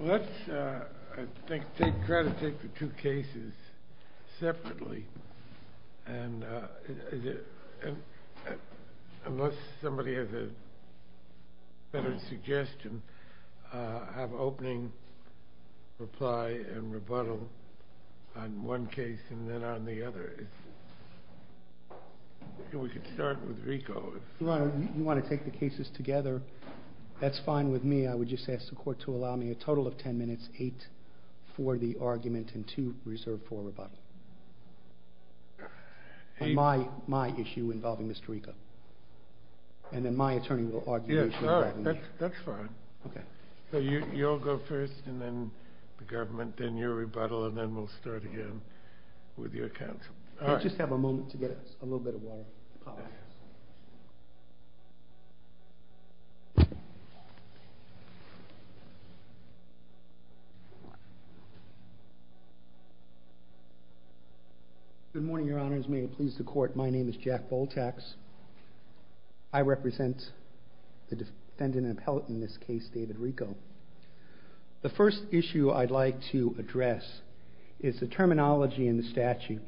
Let's, I think, try to take the two cases separately, and unless somebody has a better suggestion, have an opening reply and rebuttal on one case and then on the other. Your Honor, you want to take the cases together? That's fine with me. I would just ask the court to allow me a total of 10 minutes, 8 for the argument and 2 reserved for rebuttal on my issue involving Mr. Rico. And then my attorney will argue the issue. Your Honor, that's fine. Okay. So you'll go first and then the government, then your rebuttal, and then we'll start again with your counsel. I just have a moment to get a little bit of water. Good morning, Your Honors. May it please the court, my name is Jack Bultax. I represent the defendant appellate in this case, David Rico. The first issue I'd like to address is the terminology in the statute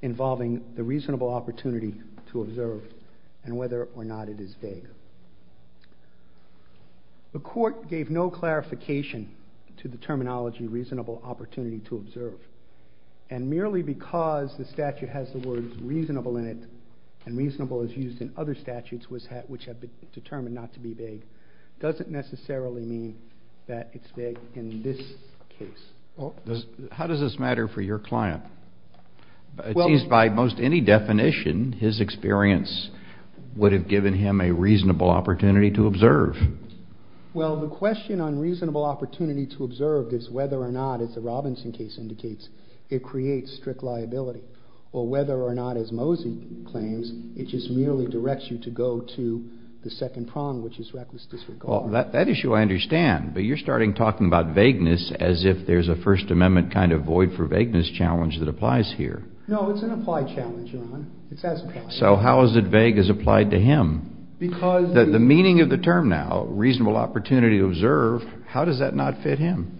involving the reasonable opportunity to observe and whether or not it is vague. The court gave no clarification to the terminology reasonable opportunity to observe. And merely because the statute has the words reasonable in it and reasonable is used in other statutes which have been determined not to be vague, doesn't necessarily mean that it's vague in this case. How does this matter for your client? It seems by most any definition, his experience would have given him a reasonable opportunity to observe. Well, the question on reasonable opportunity to observe is whether or not, as the Robinson case indicates, it creates strict liability. Or whether or not, as Mosey claims, it just merely directs you to go to the second prong, which is reckless disregard. Well, that issue I understand, but you're starting talking about vagueness as if there's a First Amendment kind of void for vagueness challenge that applies here. No, it's an applied challenge, Your Honor. It's as applied. So how is it vague as applied to him? The meaning of the term now, reasonable opportunity to observe, how does that not fit him?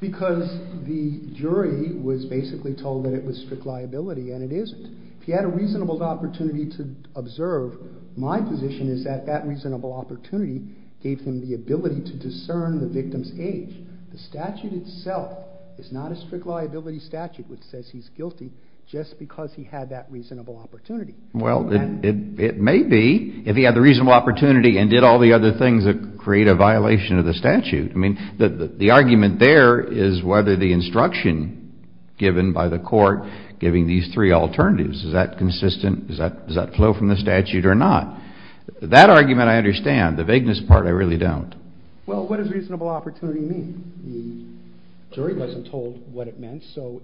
Because the jury was basically told that it was strict liability, and it isn't. If he had a reasonable opportunity to observe, my position is that that reasonable opportunity gave him the ability to discern the victim's age. The statute itself is not a strict liability statute which says he's guilty just because he had that reasonable opportunity. Well, it may be if he had the reasonable opportunity and did all the other things that create a violation of the statute. I mean, the argument there is whether the instruction given by the court giving these three alternatives, is that consistent? Does that flow from the statute or not? That argument I understand. The vagueness part I really don't. Well, what does reasonable opportunity mean? The jury wasn't told what it meant, so...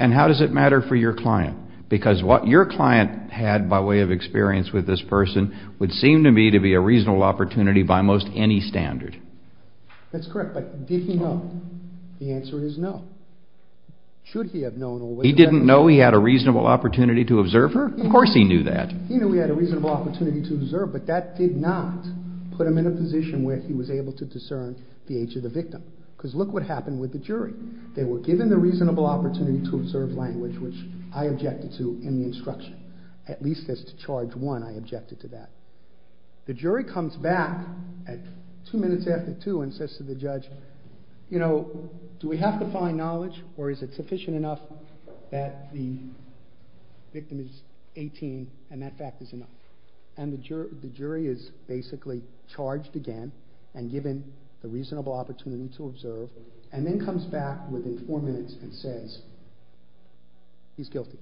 And how does it matter for your client? Because what your client had by way of experience with this person would seem to me to be a reasonable opportunity by most any standard. That's correct, but did he know? The answer is no. Should he have known? He didn't know he had a reasonable opportunity to observe her? Of course he knew that. He knew he had a reasonable opportunity to observe, but that did not put him in a position where he was able to discern the age of the victim. Because look what happened with the jury. They were given the reasonable opportunity to observe language, which I objected to in the instruction. At least as to charge one, I objected to that. The jury comes back two minutes after two and says to the judge, you know, do we have to find knowledge or is it sufficient enough that the victim is 18 and that fact is enough? And the jury is basically charged again and given the reasonable opportunity to observe, and then comes back within four minutes and says he's guilty.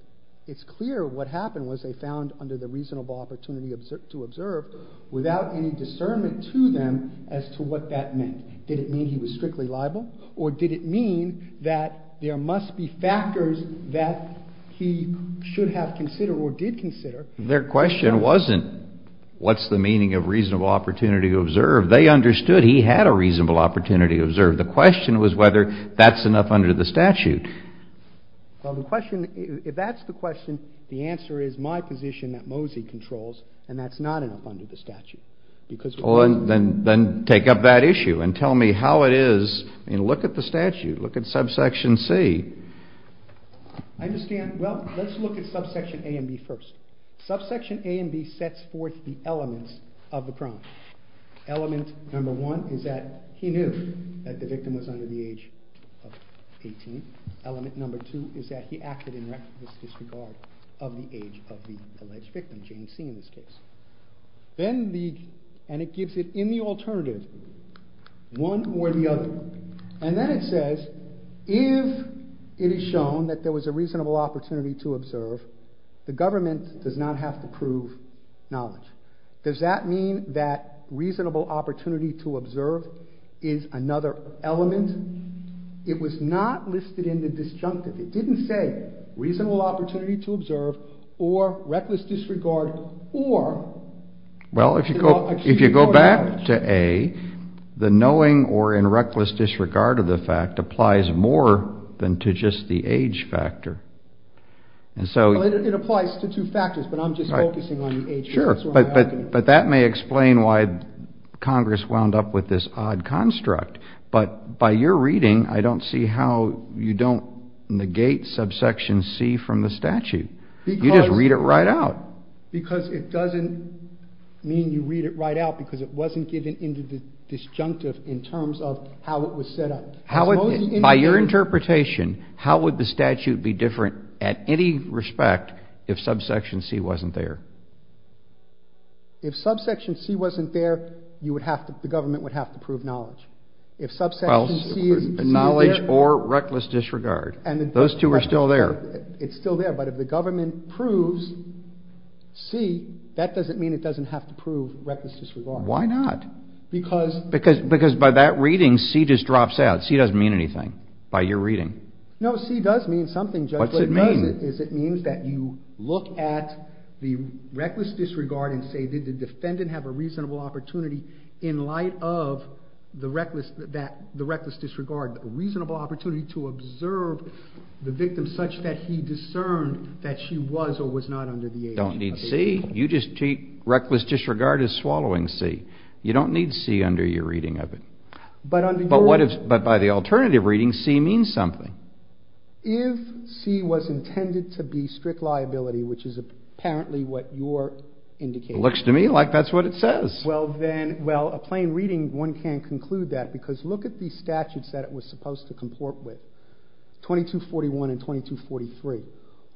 It's clear what happened was they found under the reasonable opportunity to observe without any discernment to them as to what that meant. Did it mean he was strictly liable or did it mean that there must be factors that he should have considered or did consider? Their question wasn't what's the meaning of reasonable opportunity to observe. The question was whether that's enough under the statute. Well, the question, if that's the question, the answer is my position that Mosey controls and that's not enough under the statute. Well, then take up that issue and tell me how it is. I mean, look at the statute. Look at subsection C. I understand. Well, let's look at subsection A and B first. Subsection A and B sets forth the elements of the crime. Element number one is that he knew that the victim was under the age of 18. Element number two is that he acted in reckless disregard of the age of the alleged victim, James C. in this case. Then the, and it gives it in the alternative, one or the other. And then it says if it is shown that there was a reasonable opportunity to observe, the government does not have to prove knowledge. Does that mean that reasonable opportunity to observe is another element? It was not listed in the disjunctive. It didn't say reasonable opportunity to observe or reckless disregard or. Well, if you go back to A, the knowing or in reckless disregard of the fact applies more than to just the age factor. And so. It applies to two factors, but I'm just focusing on the age factor. Sure, but that may explain why Congress wound up with this odd construct. But by your reading, I don't see how you don't negate subsection C from the statute. You just read it right out. Because it doesn't mean you read it right out because it wasn't given into the disjunctive in terms of how it was set up. By your interpretation, how would the statute be different at any respect if subsection C wasn't there? If subsection C wasn't there, you would have to, the government would have to prove knowledge. If subsection C. Knowledge or reckless disregard. Those two are still there. It's still there, but if the government proves C, that doesn't mean it doesn't have to prove reckless disregard. Why not? Because. Because by that reading, C just drops out. C doesn't mean anything by your reading. No, C does mean something, Judge. What does it mean? It means that you look at the reckless disregard and say, did the defendant have a reasonable opportunity in light of the reckless disregard? A reasonable opportunity to observe the victim such that he discerned that she was or was not under the age of 18. You don't need C. You just treat reckless disregard as swallowing C. You don't need C under your reading of it. But under your. But what if, but by the alternative reading, C means something. If C was intended to be strict liability, which is apparently what your indication is. Looks to me like that's what it says. Well, then, well, a plain reading, one can't conclude that because look at these statutes that it was supposed to comport with, 2241 and 2243.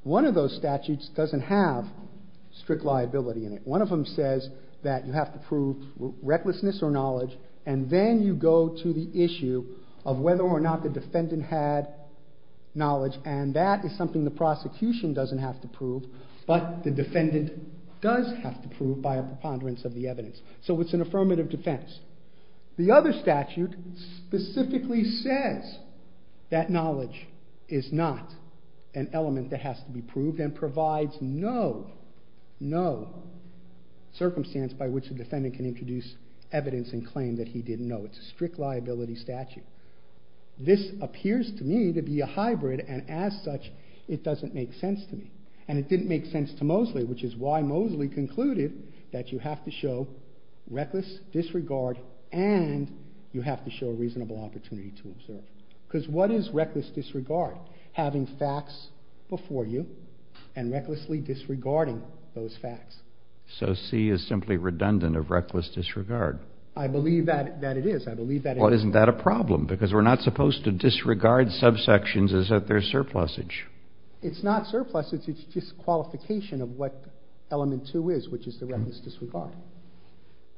One of those statutes doesn't have strict liability in it. One of them says that you have to prove recklessness or knowledge, and then you go to the issue of whether or not the defendant had knowledge. And that is something the prosecution doesn't have to prove, but the defendant does have to prove by a preponderance of the evidence. So it's an affirmative defense. The other statute specifically says that knowledge is not an element that has to be proved and provides no, no circumstance by which the defendant can introduce evidence and claim that he didn't know. It's a strict liability statute. This appears to me to be a hybrid, and as such, it doesn't make sense to me. And it didn't make sense to Mosley, which is why Mosley concluded that you have to show reckless disregard and you have to show a reasonable opportunity to observe. Because what is reckless disregard? Having facts before you and recklessly disregarding those facts. So C is simply redundant of reckless disregard. I believe that it is. I believe that it is. Well, isn't that a problem? Because we're not supposed to disregard subsections as if they're surplusage. It's not surplusage. It's just qualification of what element 2 is, which is the reckless disregard.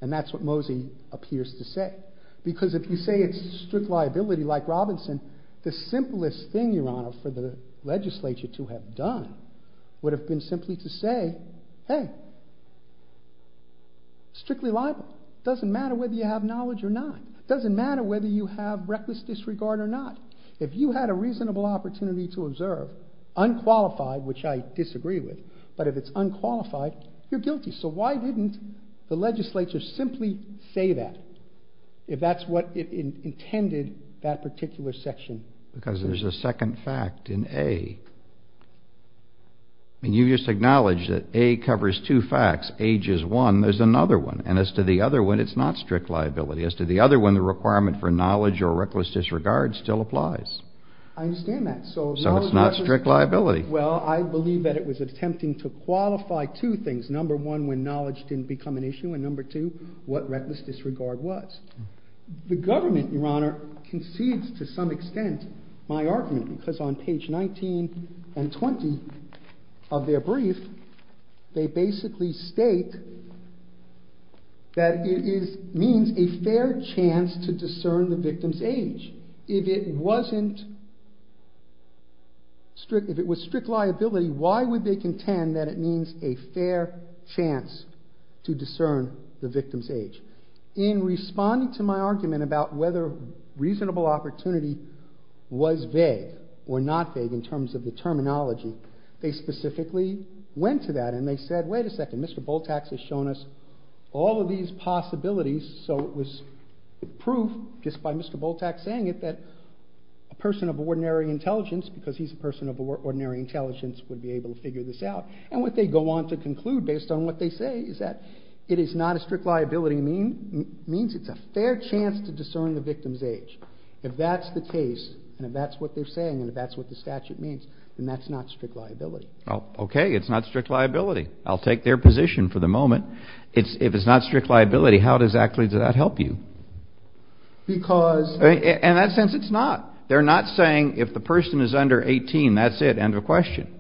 And that's what Mosley appears to say. Because if you say it's strict liability like Robinson, the simplest thing, Your Honor, for the legislature to have done would have been simply to say, hey, strictly liable. It doesn't matter whether you have knowledge or not. It doesn't matter whether you have reckless disregard or not. If you had a reasonable opportunity to observe, unqualified, which I disagree with, but if it's unqualified, you're guilty. So why didn't the legislature simply say that if that's what it intended that particular section? Because there's a second fact in A. You just acknowledged that A covers two facts. Age is one. There's another one. And as to the other one, it's not strict liability. As to the other one, the requirement for knowledge or reckless disregard still applies. I understand that. So it's not strict liability. Well, I believe that it was attempting to qualify two things. Number one, when knowledge didn't become an issue. And number two, what reckless disregard was. The government, Your Honor, concedes to some extent my argument because on page 19 and 20 of their brief, they basically state that it means a fair chance to discern the victim's age. If it was strict liability, why would they contend that it means a fair chance to discern the victim's age? In responding to my argument about whether reasonable opportunity was vague or not vague in terms of the terminology, they specifically went to that and they said, wait a second, Mr. Bultak has shown us all of these possibilities. So it was proof just by Mr. Bultak saying it that a person of ordinary intelligence, because he's a person of ordinary intelligence, would be able to figure this out. And what they go on to conclude based on what they say is that it is not a strict liability means it's a fair chance to discern the victim's age. If that's the case and if that's what they're saying and if that's what the statute means, then that's not strict liability. Okay, it's not strict liability. I'll take their position for the moment. If it's not strict liability, how exactly does that help you? Because... In that sense, it's not. They're not saying if the person is under 18, that's it, end of question.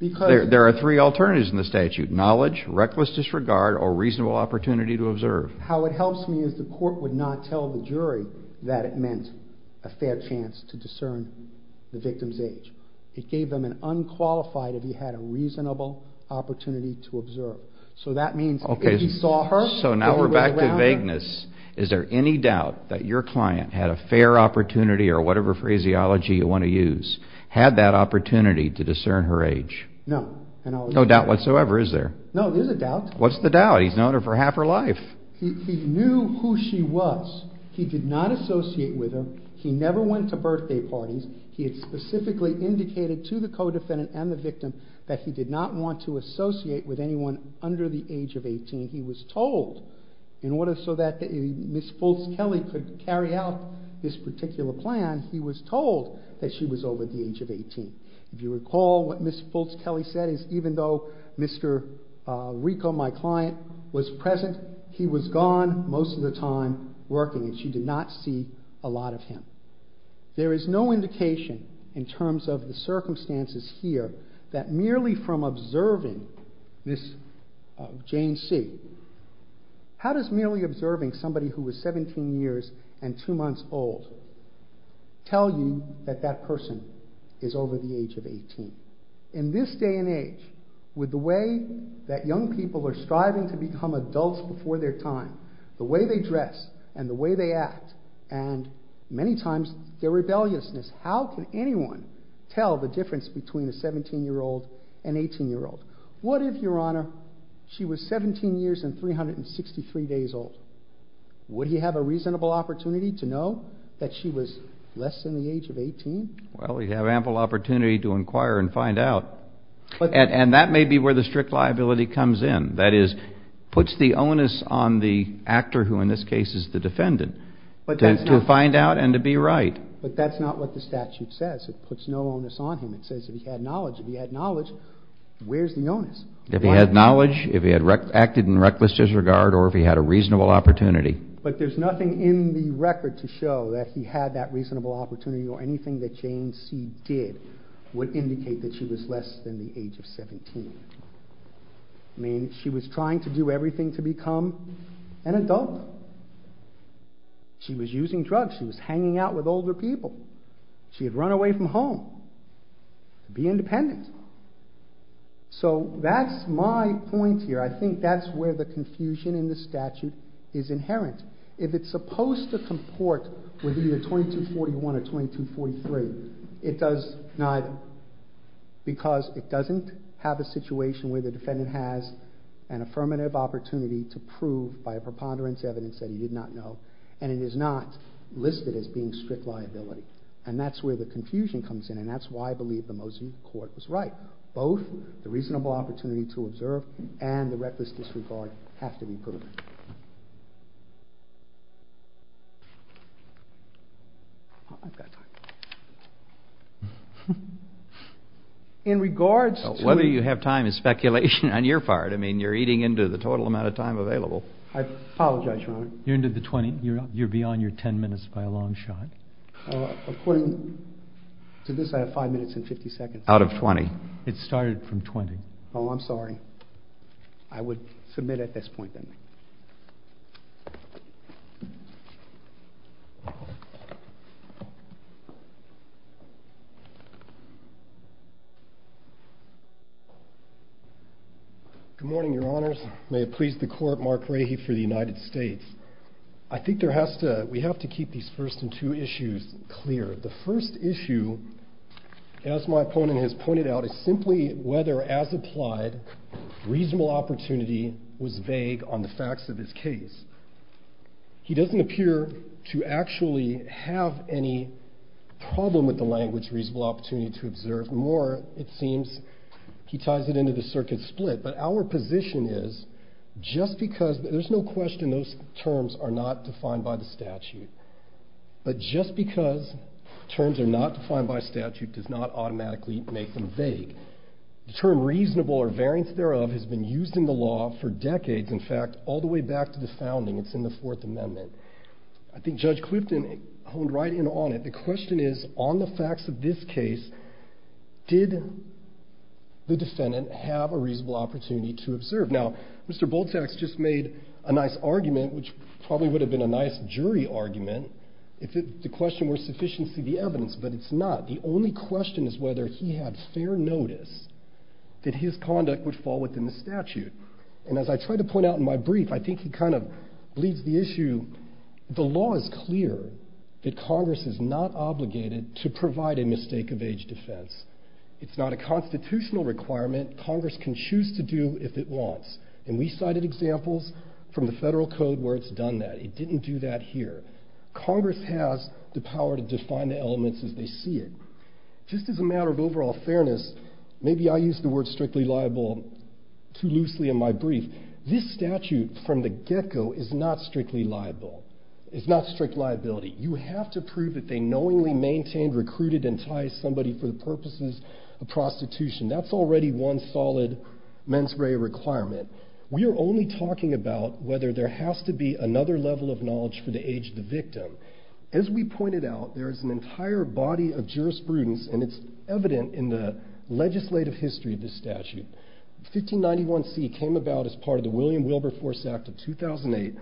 There are three alternatives in the statute, knowledge, reckless disregard, or reasonable opportunity to observe. How it helps me is the court would not tell the jury that it meant a fair chance to discern the victim's age. It gave them an unqualified if he had a reasonable opportunity to observe. So that means if he saw her... So now we're back to vagueness. Is there any doubt that your client had a fair opportunity or whatever phraseology you want to use, had that opportunity to discern her age? No. No doubt whatsoever, is there? No, there's a doubt. What's the doubt? He's known her for half her life. He knew who she was. He did not associate with her. He never went to birthday parties. He had specifically indicated to the co-defendant and the victim that he did not want to associate with anyone under the age of 18. He was told, in order so that Ms. Fultz-Kelly could carry out this particular plan, he was told that she was over the age of 18. If you recall, what Ms. Fultz-Kelly said is even though Mr. Rico, my client, was present, he was gone most of the time working, and she did not see a lot of him. There is no indication in terms of the circumstances here that merely from observing this Jane Seeg, how does merely observing somebody who was 17 years and 2 months old tell you that that person is over the age of 18? In this day and age, with the way that young people are striving to become adults before their time, the way they dress and the way they act, and many times their rebelliousness, how can anyone tell the difference between a 17-year-old and 18-year-old? What if, Your Honor, she was 17 years and 363 days old? Would he have a reasonable opportunity to know that she was less than the age of 18? Well, he'd have ample opportunity to inquire and find out. And that may be where the strict liability comes in. That is, puts the onus on the actor, who in this case is the defendant, to find out and to be right. But that's not what the statute says. It puts no onus on him. It says if he had knowledge, if he had knowledge, where's the onus? If he had knowledge, if he had acted in reckless disregard, or if he had a reasonable opportunity. But there's nothing in the record to show that he had that reasonable opportunity or anything that Jane Seeg did would indicate that she was less than the age of 17. I mean, she was trying to do everything to become an adult. She was using drugs. She was hanging out with older people. She had run away from home to be independent. So that's my point here. I think that's where the confusion in the statute is inherent. If it's supposed to comport with either 2241 or 2243, it does neither. Because it doesn't have a situation where the defendant has an affirmative opportunity to prove by a preponderance evidence that he did not know. And it is not listed as being strict liability. And that's where the confusion comes in. And that's why I believe the Mosley Court was right. Both the reasonable opportunity to observe and the reckless disregard have to be proven. In regards to... Whether you have time is speculation on your part. I mean, you're eating into the total amount of time available. I apologize, Your Honor. You're into the 20. You're beyond your 10 minutes by a long shot. According to this, I have 5 minutes and 50 seconds. Out of 20. It started from 20. Oh, I'm sorry. I would submit at this point then. Good morning, Your Honors. May it please the Court. Mark Rahe for the United States. I think we have to keep these first and two issues clear. The first issue, as my opponent has pointed out, is simply whether, as applied, reasonable opportunity was vague on the facts of this case. He doesn't appear to actually have any problem with the language reasonable opportunity to observe. More, it seems, he ties it into the circuit split. But our position is, just because... There's no question those terms are not defined by the statute. But just because terms are not defined by statute does not automatically make them vague. The term reasonable or variance thereof has been used in the law for decades. In fact, all the way back to the founding. It's in the Fourth Amendment. I think Judge Clipton honed right in on it. The question is, on the facts of this case, did the defendant have a reasonable opportunity to observe? Now, Mr. Bultax just made a nice argument, which probably would have been a nice jury argument, if the question were sufficient to see the evidence. But it's not. The only question is whether he had fair notice that his conduct would fall within the statute. And as I tried to point out in my brief, I think he kind of bleeds the issue. The law is clear that Congress is not obligated to provide a mistake of age defense. It's not a constitutional requirement. Congress can choose to do if it wants. And we cited examples from the federal code where it's done that. It didn't do that here. Congress has the power to define the elements as they see it. Just as a matter of overall fairness, maybe I used the word strictly liable too loosely in my brief. This statute from the get-go is not strictly liable. It's not strict liability. You have to prove that they knowingly maintained, recruited, and tied somebody for the purposes of prostitution. That's already one solid mens rea requirement. We are only talking about whether there has to be another level of knowledge for the age of the victim. As we pointed out, there is an entire body of jurisprudence, and it's evident in the legislative history of this statute. 1591C came about as part of the William Wilberforce Act of 2008.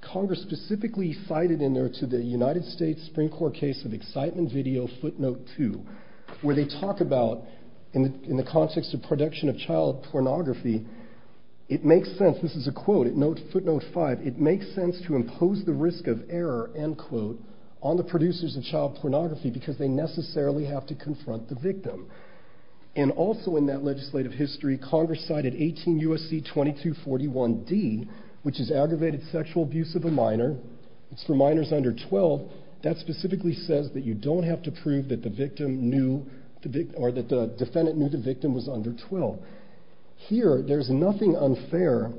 Congress specifically cited in there to the United States Supreme Court case of excitement video footnote 2, where they talk about in the context of production of child pornography, it makes sense, this is a quote, footnote 5, it makes sense to impose the risk of error, end quote, on the producers of child pornography because they necessarily have to confront the victim. And also in that legislative history, Congress cited 18 U.S.C. 2241D, which is aggravated sexual abuse of a minor. It's for minors under 12. That specifically says that you don't have to prove that the victim knew, or that the defendant knew the victim was under 12. Here, there's nothing unfair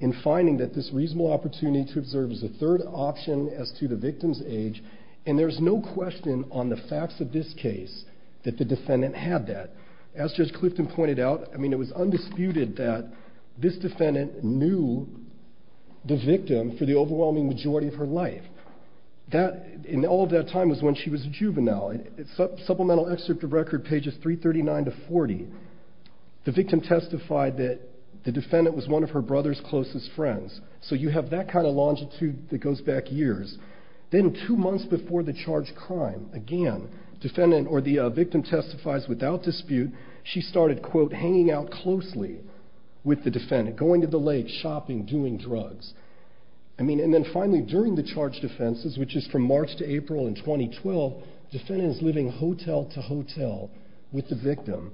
in finding that this reasonable opportunity to observe is a third option as to the victim's age, and there's no question on the facts of this case that the defendant had that. As Judge Clifton pointed out, I mean, it was undisputed that this defendant knew the victim for the overwhelming majority of her life. And all of that time was when she was a juvenile. Supplemental excerpt of record, pages 339 to 40, the victim testified that the defendant was one of her brother's closest friends. So you have that kind of longitude that goes back years. Then two months before the charged crime, again, the victim testifies without dispute. She started, quote, hanging out closely with the defendant, going to the lake, shopping, doing drugs. And then finally, during the charged offenses, which is from March to April in 2012, the defendant is living hotel to hotel with the victim.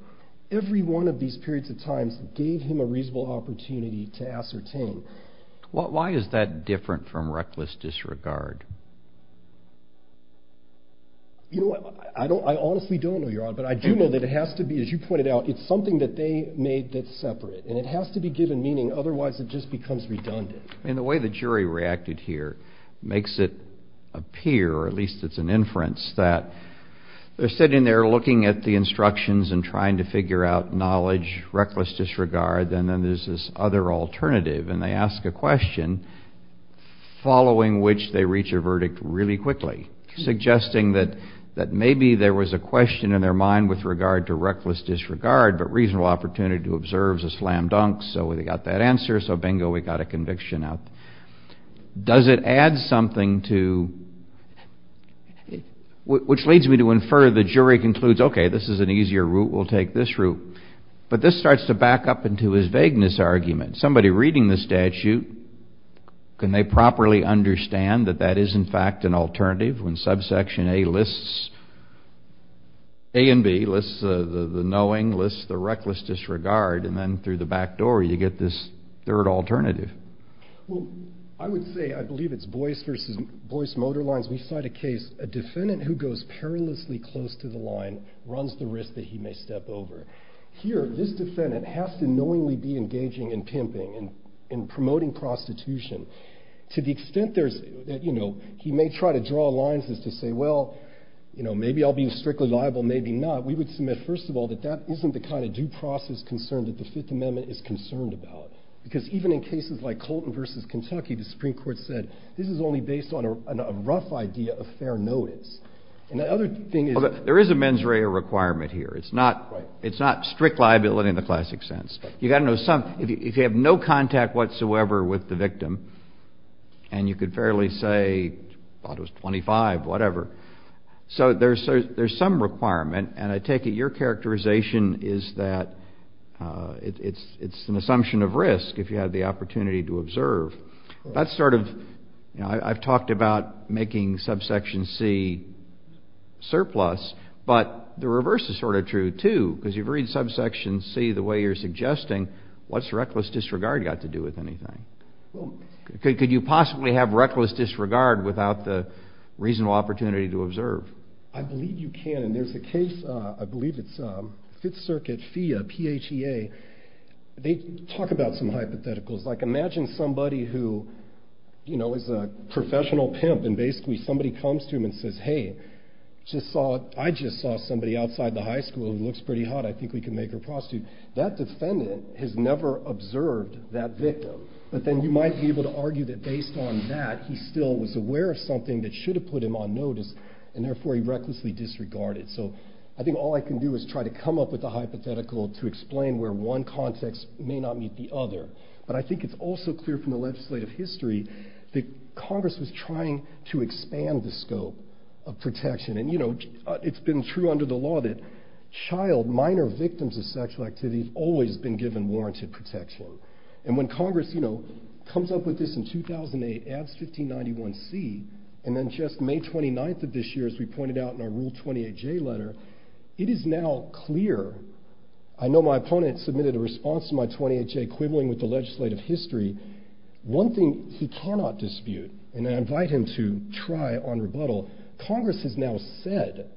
Every one of these periods of time gave him a reasonable opportunity to ascertain. Why is that different from reckless disregard? You know, I honestly don't know, Your Honor, but I do know that it has to be, as you pointed out, it's something that they made that's separate. And it has to be given meaning, otherwise it just becomes redundant. The way the jury reacted here makes it appear, or at least it's an inference, that they're sitting there looking at the instructions and trying to figure out knowledge, reckless disregard, and then there's this other alternative. And they ask a question, following which they reach a verdict really quickly, suggesting that maybe there was a question in their mind with regard to reckless disregard, but reasonable opportunity to observe is a slam dunk, so they got that answer, so bingo, we got a conviction out. Does it add something to, which leads me to infer the jury concludes, okay, this is an easier route, we'll take this route. But this starts to back up into his vagueness argument. Somebody reading the statute, can they properly understand that that is, in fact, an alternative when subsection A lists A and B, lists the knowing, lists the reckless disregard, and then through the back door you get this third alternative? Well, I would say, I believe it's Boyce v. Boyce Motor Lines. We cite a case, a defendant who goes perilously close to the line runs the risk that he may step over. Here, this defendant has to knowingly be engaging in pimping and promoting prostitution. To the extent that he may try to draw lines as to say, well, maybe I'll be strictly liable, maybe not, we would submit, first of all, that that isn't the kind of due process concern that the Fifth Amendment is concerned about. Because even in cases like Colton v. Kentucky, the Supreme Court said, this is only based on a rough idea of fair notice. There is a mens rea requirement here. It's not strict liability in the classic sense. If you have no contact whatsoever with the victim, and you could fairly say, I thought it was 25, whatever. So there's some requirement, and I take it your characterization is that it's an assumption of risk, if you have the opportunity to observe. That's sort of, you know, I've talked about making subsection C surplus, but the reverse is sort of true, too, because you've read subsection C the way you're suggesting. What's reckless disregard got to do with anything? Could you possibly have reckless disregard without the reasonable opportunity to observe? I believe you can, and there's a case, I believe it's Fifth Circuit, PHEA, P-H-E-A. They talk about some hypotheticals. Like, imagine somebody who, you know, is a professional pimp, and basically somebody comes to him and says, hey, I just saw somebody outside the high school who looks pretty hot. I think we can make her prostitute. That defendant has never observed that victim. But then you might be able to argue that based on that, he still was aware of something that should have put him on notice, and therefore he recklessly disregarded. So I think all I can do is try to come up with a hypothetical to explain where one context may not meet the other. But I think it's also clear from the legislative history that Congress was trying to expand the scope of protection. And, you know, it's been true under the law that child, minor victims of sexual activity have always been given warranted protection. And when Congress, you know, comes up with this in 2008, adds 1591C, and then just May 29th of this year, as we pointed out in our Rule 28J letter, it is now clear. I know my opponent submitted a response to my 28J quibbling with the legislative history. One thing he cannot dispute, and I invite him to try on rebuttal, Congress has now said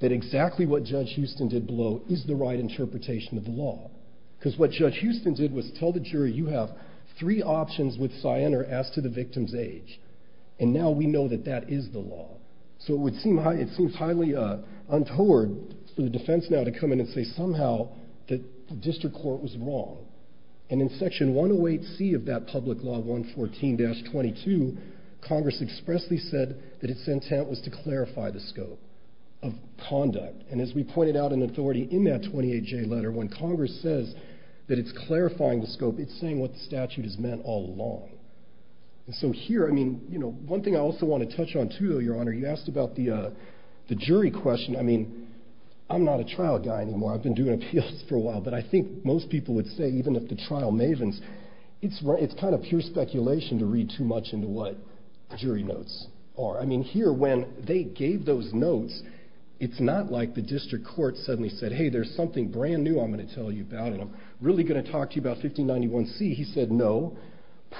that exactly what Judge Houston did below is the right interpretation of the law. Because what Judge Houston did was tell the jury, you have three options with cyan or as to the victim's age. And now we know that that is the law. So it seems highly untoward for the defense now to come in and say somehow that the district court was wrong. And in Section 108C of that public law, 114-22, Congress expressly said that its intent was to clarify the scope of conduct. And as we pointed out in authority in that 28J letter, when Congress says that it's clarifying the scope, it's saying what the statute has meant all along. So here, one thing I also want to touch on too, Your Honor, you asked about the jury question. I mean, I'm not a trial guy anymore. I've been doing appeals for a while. But I think most people would say even if the trial mavens, it's kind of pure speculation to read too much into what jury notes are. I mean, here, when they gave those notes, it's not like the district court suddenly said, hey, there's something brand new I'm going to tell you about, and I'm really going to talk to you about 1591C. He said, no,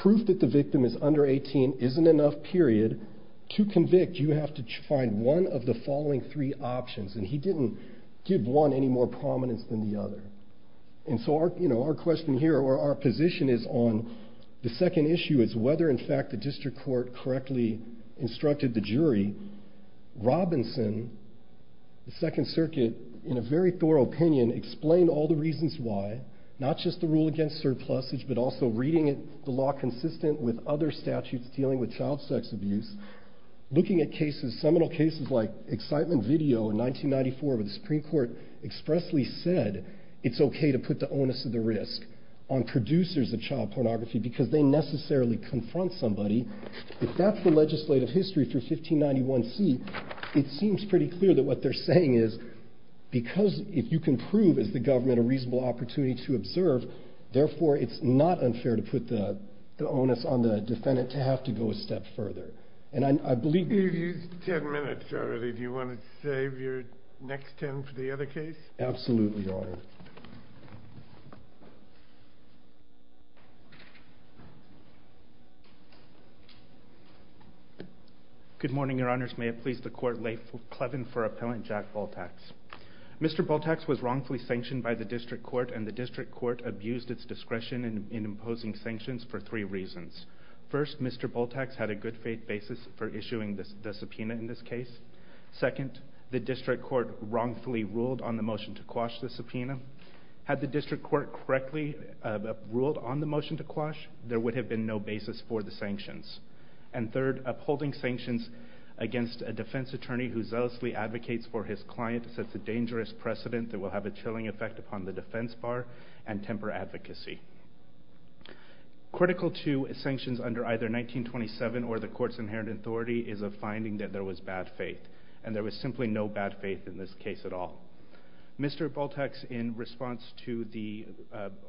proof that the victim is under 18 isn't enough, period. To convict, you have to find one of the following three options. And he didn't give one any more prominence than the other. And so our question here or our position is on the second issue is whether, in fact, the district court correctly instructed the jury. Robinson, the Second Circuit, in a very thorough opinion, explained all the reasons why, not just the rule against surplusage, but also reading the law consistent with other statutes dealing with child sex abuse, looking at cases, seminal cases like excitement video in 1994 where the Supreme Court expressly said it's okay to put the onus of the risk on producers of child pornography because they necessarily confront somebody. If that's the legislative history for 1591C, it seems pretty clear that what they're saying is because if you can prove, as the government, a reasonable opportunity to observe, therefore it's not unfair to put the onus on the defendant to have to go a step further. And I believe... You've used ten minutes already. Do you want to save your next ten for the other case? Absolutely, Your Honor. Good morning, Your Honors. May it please the Court, Laif Clevin for Appellant Jack Bultax. Mr. Bultax was wrongfully sanctioned by the district court, and the district court abused its discretion in imposing sanctions for three reasons. First, Mr. Bultax had a good faith basis for issuing the subpoena in this case. Second, the district court wrongfully ruled on the motion to quash the subpoena. Had the district court correctly ruled on the motion to quash, there would have been no basis for the sanctions. And third, upholding sanctions against a defense attorney who zealously advocates for his client sets a dangerous precedent that will have a chilling effect upon the defense bar and temper advocacy. Critical to sanctions under either 1927 or the court's inherent authority is a finding that there was bad faith, and there was simply no bad faith in this case at all. Mr. Bultax, in response to the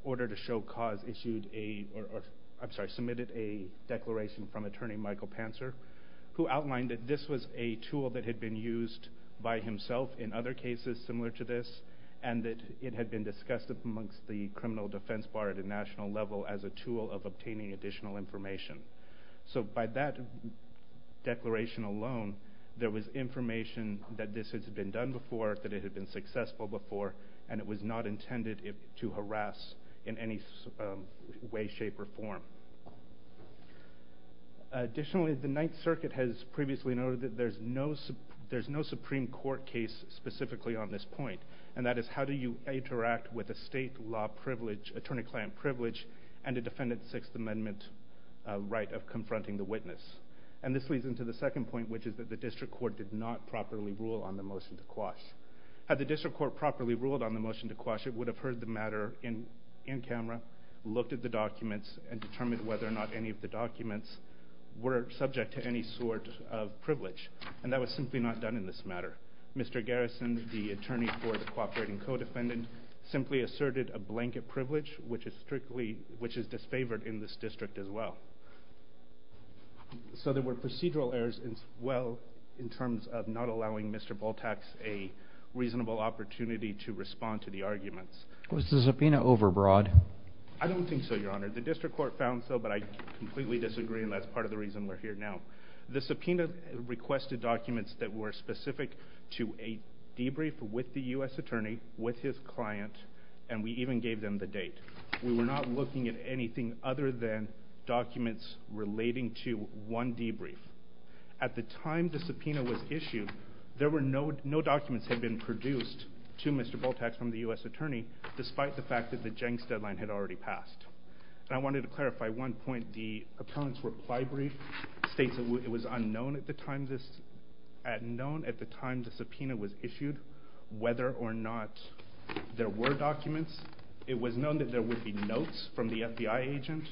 order to show cause, submitted a declaration from attorney Michael Panzer who outlined that this was a tool that had been used by himself in other cases similar to this, and that it had been discussed amongst the criminal defense bar at a national level as a tool of obtaining additional information. So by that declaration alone, there was information that this had been done before, that it had been successful before, and it was not intended to harass in any way, shape, or form. Additionally, the Ninth Circuit has previously noted that there's no Supreme Court case specifically on this point, and that is how do you interact with a state law privilege, attorney-client privilege, and a defendant's Sixth Amendment right of confronting the witness. And this leads into the second point, which is that the district court did not properly rule on the motion to quash. Had the district court properly ruled on the motion to quash, it would have heard the matter in camera, looked at the documents, and determined whether or not any of the documents were subject to any sort of privilege, and that was simply not done in this matter. Mr. Garrison, the attorney for the cooperating co-defendant, simply asserted a blanket privilege, which is disfavored in this district as well. So there were procedural errors as well in terms of not allowing Mr. Bultaks a reasonable opportunity to respond to the arguments. Was the subpoena overbroad? I don't think so, Your Honor. The district court found so, but I completely disagree, and that's part of the reason we're here now. The subpoena requested documents that were specific to a debrief with the U.S. attorney, with his client, and we even gave them the date. We were not looking at anything other than documents relating to one debrief. At the time the subpoena was issued, no documents had been produced to Mr. Bultaks from the U.S. attorney, despite the fact that the Jenks deadline had already passed. I wanted to clarify one point. The appellant's reply brief states it was unknown at the time the subpoena was issued whether or not there were documents. It was known that there would be notes from the FBI agent,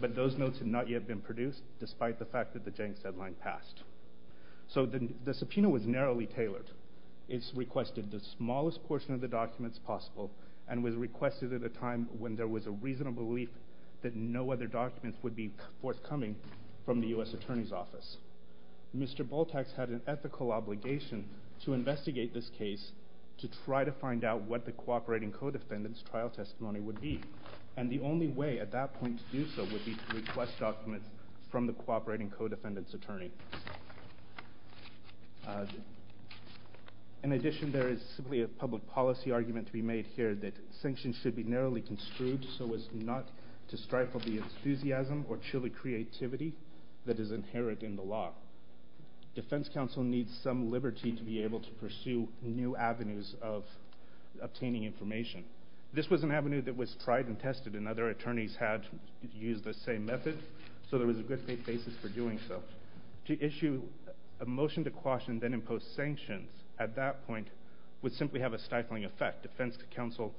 but those notes had not yet been produced, despite the fact that the Jenks deadline passed. So the subpoena was narrowly tailored. It requested the smallest portion of the documents possible and was requested at a time when there was a reasonable belief that no other documents would be forthcoming from the U.S. attorney's office. Mr. Bultaks had an ethical obligation to investigate this case to try to find out what the cooperating co-defendant's trial testimony would be, and the only way at that point to do so would be to request documents from the cooperating co-defendant's attorney. In addition, there is simply a public policy argument to be made here that sanctions should be narrowly construed so as not to strifle the enthusiasm or chilly creativity that is inherent in the law. Defense counsel needs some liberty to be able to pursue new avenues of obtaining information. This was an avenue that was tried and tested, and other attorneys had used the same method, so there was a good faith basis for doing so. To issue a motion to quash and then impose sanctions at that point would simply have a stifling effect. Defense counsel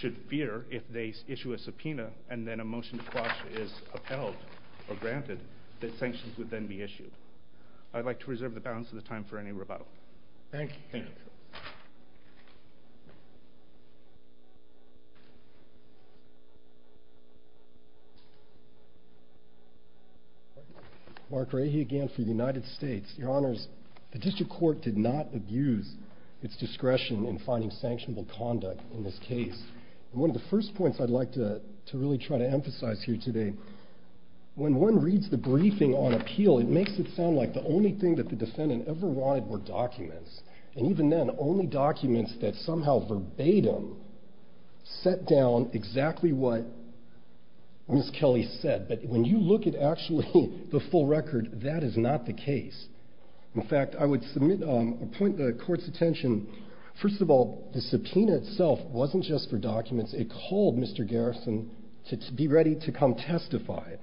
should fear if they issue a subpoena and then a motion to quash is upheld or granted, that sanctions would then be issued. I'd like to reserve the balance of the time for any rebuttal. Thank you. Mark Rahe again for the United States. Your Honors, the district court did not abuse its discretion in finding sanctionable conduct in this case. One of the first points I'd like to really try to emphasize here today, when one reads the briefing on appeal, it makes it sound like the only thing that the defendant ever wanted were documents. And even then, only documents that somehow verbatim set down exactly what Ms. Kelly said. But when you look at actually the full record, that is not the case. In fact, I would submit a point to the court's attention. First of all, the subpoena itself wasn't just for documents. It called Mr. Garrison to be ready to come testify.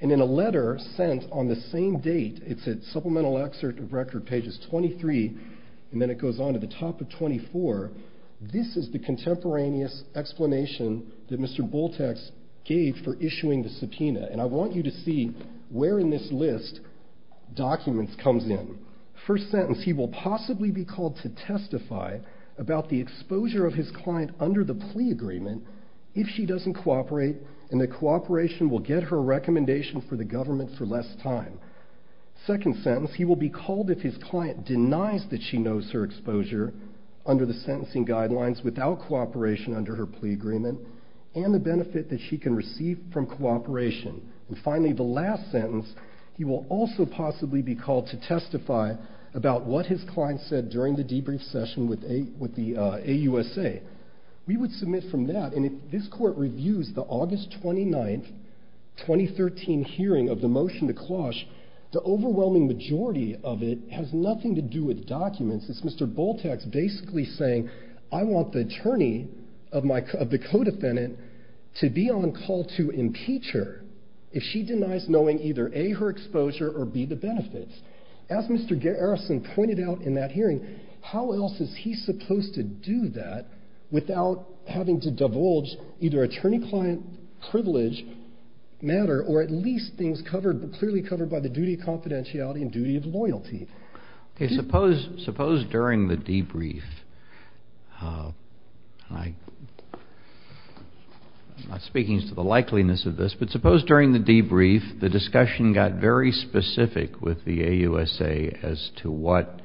And in a letter sent on the same date, it's a supplemental excerpt of record, pages 23, and then it goes on to the top of 24. This is the contemporaneous explanation that Mr. Bultek gave for issuing the subpoena. And I want you to see where in this list documents comes in. First sentence, he will possibly be called to testify about the exposure of his client under the plea agreement if she doesn't cooperate and the cooperation will get her a recommendation for the government for less time. Second sentence, he will be called if his client denies that she knows her exposure under the sentencing guidelines without cooperation under her plea agreement and the benefit that she can receive from cooperation. And finally, the last sentence, he will also possibly be called to testify about what his client said during the debrief session with the AUSA. We would submit from that, and if this court reviews the August 29, 2013 hearing of the motion to cloche, the overwhelming majority of it has nothing to do with documents. It's Mr. Bultek basically saying, I want the attorney of the co-defendant to be on call to impeach her if she denies knowing either A, her exposure, or B, the benefits. As Mr. Garrison pointed out in that hearing, how else is he supposed to do that without having to divulge either attorney-client privilege matter or at least things clearly covered by the duty of confidentiality and duty of loyalty? Okay, suppose during the debrief, I'm not speaking to the likeliness of this, but suppose during the debrief the discussion got very specific with the AUSA as to what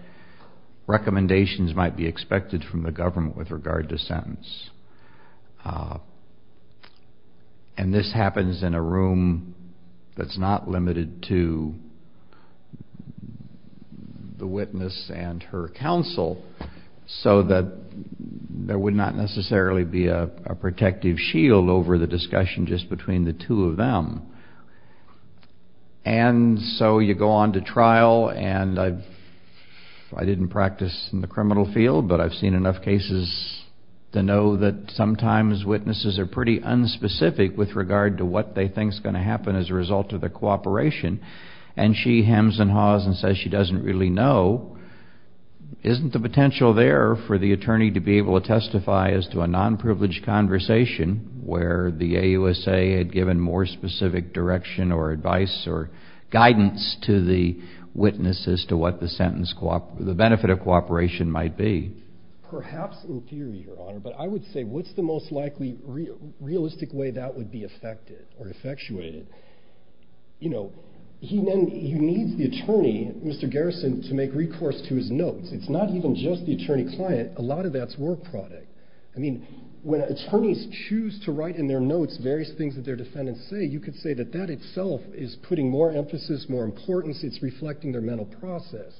recommendations might be expected from the government with regard to sentence. And this happens in a room that's not limited to the witness and her counsel, so that there would not necessarily be a protective shield over the discussion just between the two of them. And so you go on to trial, and I didn't practice in the criminal field, but I've seen enough cases to know that sometimes witnesses are pretty unspecific with regard to what they think is going to happen as a result of the cooperation, and she hems and haws and says she doesn't really know. Isn't the potential there for the attorney to be able to testify as to a non-privileged conversation where the AUSA had given more specific direction or advice or guidance to the witness as to what the benefit of cooperation might be? Perhaps in theory, Your Honor, but I would say what's the most likely realistic way that would be effected or effectuated? You know, he needs the attorney, Mr. Garrison, to make recourse to his notes. It's not even just the attorney-client. A lot of that's work product. I mean, when attorneys choose to write in their notes various things that their defendants say, you could say that that itself is putting more emphasis, more importance. It's reflecting their mental process.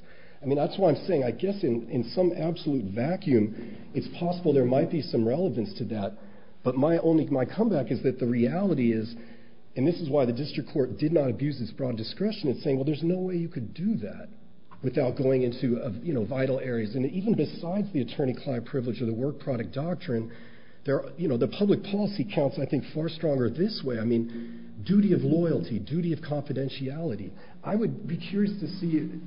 I mean, that's why I'm saying I guess in some absolute vacuum, it's possible there might be some relevance to that, but my comeback is that the reality is, and this is why the district court did not abuse its broad discretion in saying, well, there's no way you could do that without going into vital areas, and even besides the attorney-client privilege or the work product doctrine, the public policy counts, I think, far stronger this way. I mean, duty of loyalty, duty of confidentiality. I would be curious to see, you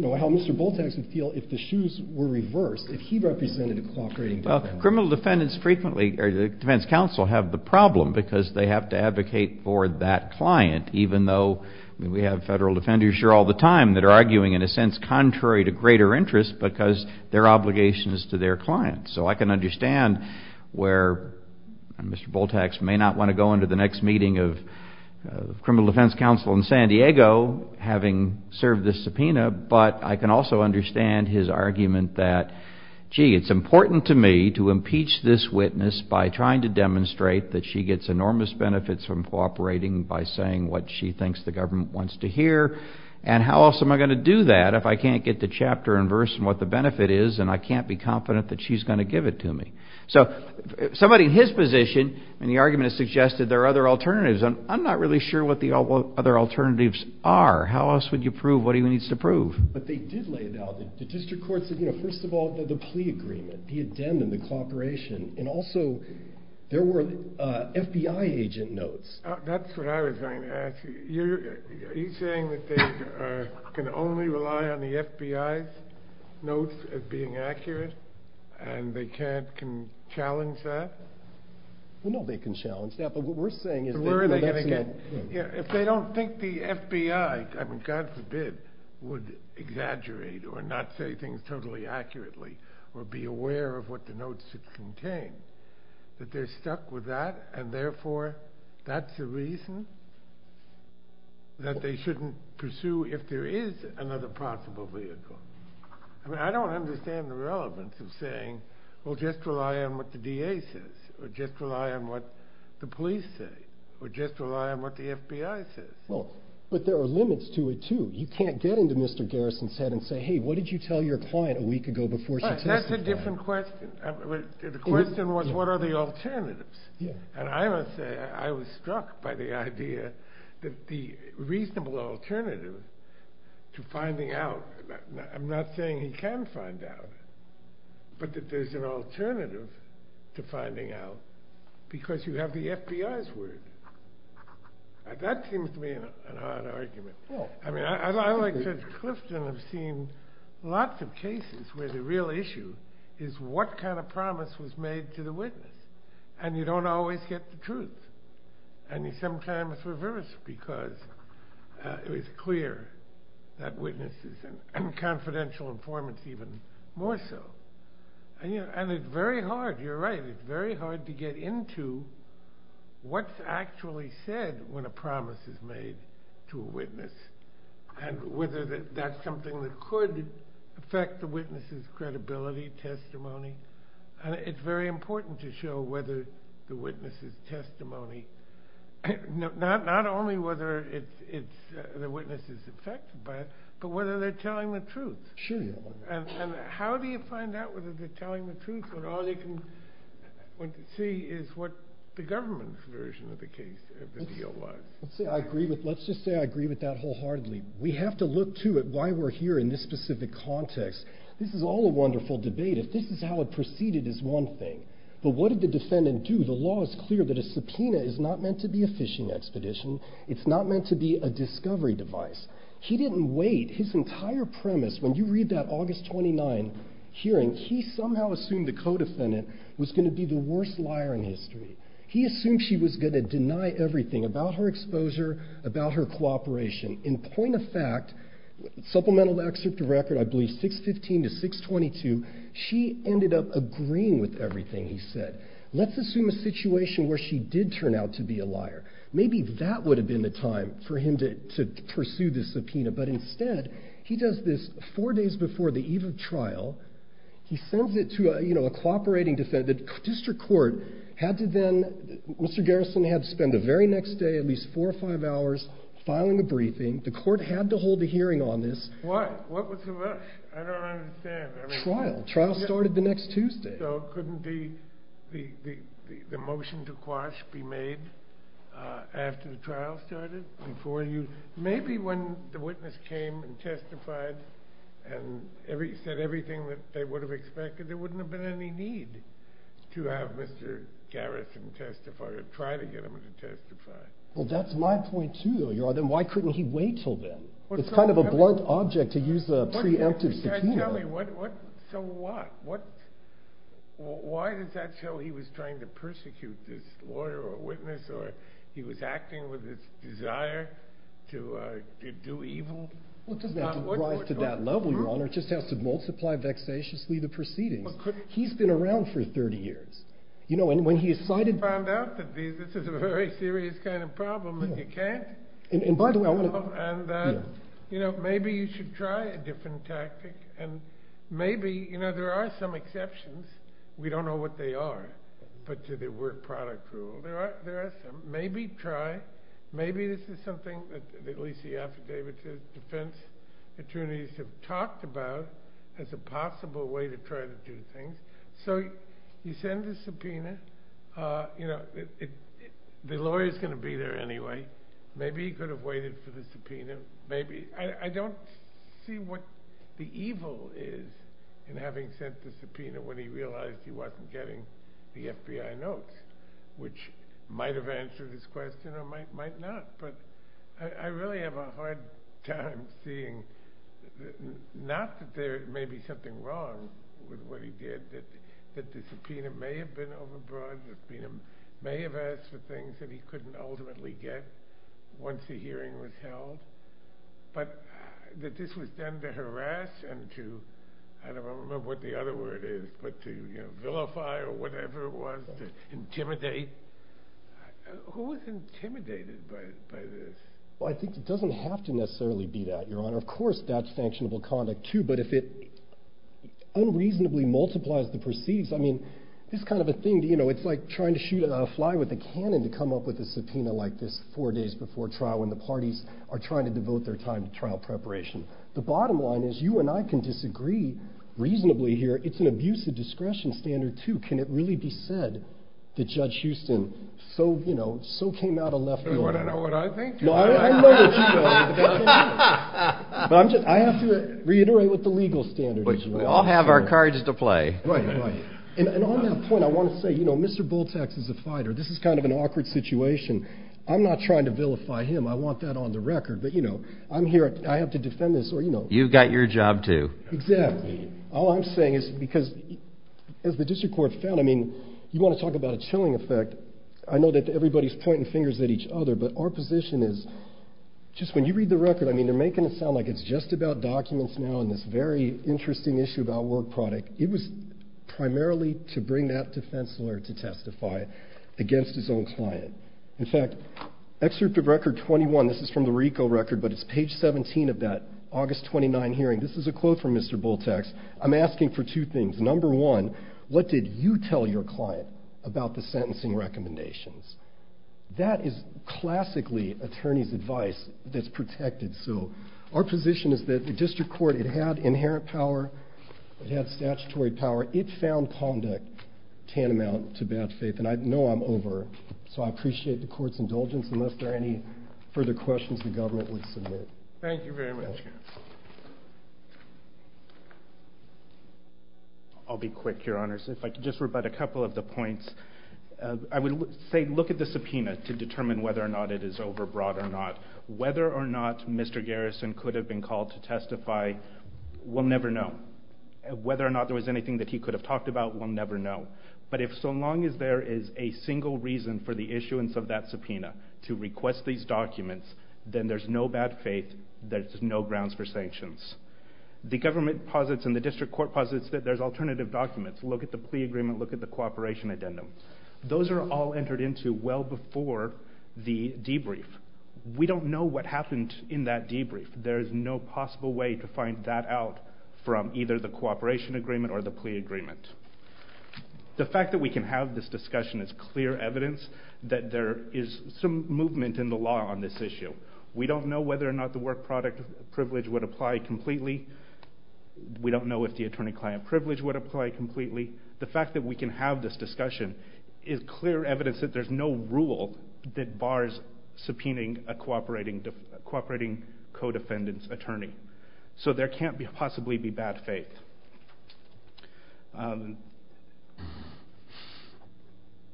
know, how Mr. Bultax would feel if the shoes were reversed, if he represented a cooperating defendant. Well, criminal defendants frequently, or the defense counsel have the problem because they have to advocate for that client, even though we have federal defenders here all the time that are arguing in a sense contrary to greater interest because their obligation is to their client. So I can understand where Mr. Bultax may not want to go into the next meeting of criminal defense counsel in San Diego, having served this subpoena, but I can also understand his argument that, gee, it's important to me to impeach this witness by trying to demonstrate that she gets enormous benefits from cooperating by saying what she thinks the government wants to hear, and how else am I going to do that if I can't get the chapter and verse and what the benefit is and I can't be confident that she's going to give it to me. So somebody in his position in the argument has suggested there are other alternatives, and I'm not really sure what the other alternatives are. How else would you prove what he needs to prove? But they did lay it out. The district court said, you know, first of all, the plea agreement, the addendum, the cooperation, and also there were FBI agent notes. That's what I was going to ask. Are you saying that they can only rely on the FBI's notes as being accurate and they can't challenge that? Well, no, they can challenge that, but what we're saying is that they're messing up. If they don't think the FBI, I mean, God forbid, would exaggerate or not say things totally accurately or be aware of what the notes should contain, that they're stuck with that, and therefore that's a reason that they shouldn't pursue if there is another possible vehicle. I mean, I don't understand the relevance of saying, well, just rely on what the DA says or just rely on what the police say or just rely on what the FBI says. Well, but there are limits to it, too. You can't get into Mr. Garrison's head and say, hey, what did you tell your client a week ago before she tested you? That's a different question. The question was, what are the alternatives? And I must say I was struck by the idea that the reasonable alternative to finding out, I'm not saying he can find out, but that there's an alternative to finding out because you have the FBI's word. That seems to me an odd argument. I mean, I, like Judge Clifton, have seen lots of cases where the real issue is what kind of promise was made to the witness. And you don't always get the truth. And sometimes it's reversed because it's clear that witnesses and confidential informants even more so. And it's very hard. You're right. It's very hard to get into what's actually said when a promise is made to a witness and whether that's something that could affect the witness's credibility, testimony. And it's very important to show whether the witness's testimony, not only whether the witness is affected by it, but whether they're telling the truth. Sure. And how do you find out whether they're telling the truth when all you can see is what the government's version of the case, of the deal, was? Let's just say I agree with that wholeheartedly. We have to look, too, at why we're here in this specific context. This is all a wonderful debate. If this is how it proceeded is one thing. But what did the defendant do? The law is clear that a subpoena is not meant to be a fishing expedition. It's not meant to be a discovery device. He didn't wait. His entire premise, when you read that August 29 hearing, he somehow assumed the co-defendant was going to be the worst liar in history. He assumed she was going to deny everything about her exposure, about her cooperation. In point of fact, supplemental excerpt to record, I believe 615 to 622, she ended up agreeing with everything he said. Let's assume a situation where she did turn out to be a liar. Maybe that would have been the time for him to pursue the subpoena. But instead, he does this four days before the eve of trial. He sends it to a cooperating defendant. The district court had to then, Mr. Garrison had to spend the very next day, at least four or five hours, filing a briefing. The court had to hold a hearing on this. Why? What was the rush? I don't understand. Trial. Trial started the next Tuesday. So couldn't the motion to quash be made after the trial started? Maybe when the witness came and testified and said everything that they would have expected, there wouldn't have been any need to have Mr. Garrison testify or try to get him to testify. Well, that's my point, too. Then why couldn't he wait until then? It's kind of a blunt object to use a preemptive subpoena. So what? Why does that show he was trying to persecute this lawyer or witness or he was acting with his desire to do evil? Well, it doesn't have to rise to that level, Your Honor. It just has to multiply vexatiously the proceedings. He's been around for 30 years. You know, and when he decided... He found out that this is a very serious kind of problem and you can't... And by the way, I want to... You know, maybe you should try a different tactic. And maybe, you know, there are some exceptions. We don't know what they are. But to the word product rule, there are some. Maybe try. Maybe this is something that at least the affidavit defense attorneys have talked about as a possible way to try to do things. So you send the subpoena. You know, the lawyer is going to be there anyway. Maybe he could have waited for the subpoena. I don't see what the evil is in having sent the subpoena when he realized he wasn't getting the FBI notes, which might have answered his question or might not. But I really have a hard time seeing... Not that there may be something wrong with what he did. That the subpoena may have been overbroad. The subpoena may have asked for things that he couldn't ultimately get once the hearing was held. But that this was done to harass and to... I don't remember what the other word is. But to vilify or whatever it was. To intimidate. Who is intimidated by this? Well, I think it doesn't have to necessarily be that, Your Honor. Of course, that's sanctionable conduct, too. But if it unreasonably multiplies the proceedings... I mean, it's kind of a thing. It's like trying to shoot a fly with a cannon to come up with a subpoena like this four days before trial when the parties are trying to devote their time to trial preparation. The bottom line is you and I can disagree reasonably here. It's an abusive discretion standard, too. Can it really be said that Judge Houston so came out of left field? Do you want to know what I think? No, I know what you know. But I have to reiterate what the legal standard is. We all have our cards to play. Right, right. And on that point, I want to say Mr. Bultaks is a fighter. This is kind of an awkward situation. I'm not trying to vilify him. I want that on the record. But I'm here. I have to defend this. You've got your job, too. Exactly. All I'm saying is because, as the district court found, I mean, you want to talk about a chilling effect. I know that everybody's pointing fingers at each other, but our position is just when you read the record, I mean, they're making it sound like it's just about documents now and this very interesting issue about work product. It was primarily to bring that defense lawyer to testify against his own client. In fact, Excerpt of Record 21, this is from the RICO record, but it's page 17 of that August 29 hearing. This is a quote from Mr. Bultaks. I'm asking for two things. Number one, what did you tell your client about the sentencing recommendations? That is classically attorney's advice that's protected. So our position is that the district court, it had inherent power. It had statutory power. It found conduct tantamount to bad faith, and I know I'm over, so I appreciate the court's indulgence unless there are any further questions the government would submit. Thank you very much. I'll be quick, Your Honors. If I could just rebut a couple of the points. I would say look at the subpoena to determine whether or not it is overbroad or not. Whether or not Mr. Garrison could have been called to testify, we'll never know. Whether or not there was anything that he could have talked about, we'll never know. But if so long as there is a single reason for the issuance of that subpoena to request these documents, then there's no bad faith. There's no grounds for sanctions. The government posits and the district court posits that there's alternative documents. Look at the plea agreement. Look at the cooperation addendum. Those are all entered into well before the debrief. We don't know what happened in that debrief. There is no possible way to find that out from either the cooperation agreement or the plea agreement. The fact that we can have this discussion is clear evidence that there is some movement in the law on this issue. We don't know whether or not the work product privilege would apply completely. We don't know if the attorney-client privilege would apply completely. The fact that we can have this discussion is clear evidence that there's no rule that bars subpoenaing a cooperating co-defendant's attorney. So there can't possibly be bad faith.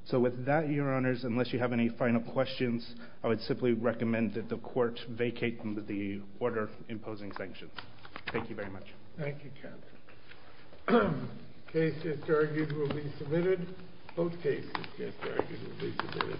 So with that, Your Honors, unless you have any final questions, I would simply recommend that the court vacate the order imposing sanctions. Thank you very much. Thank you, counsel. Cases argued will be submitted. Both cases argued will be submitted.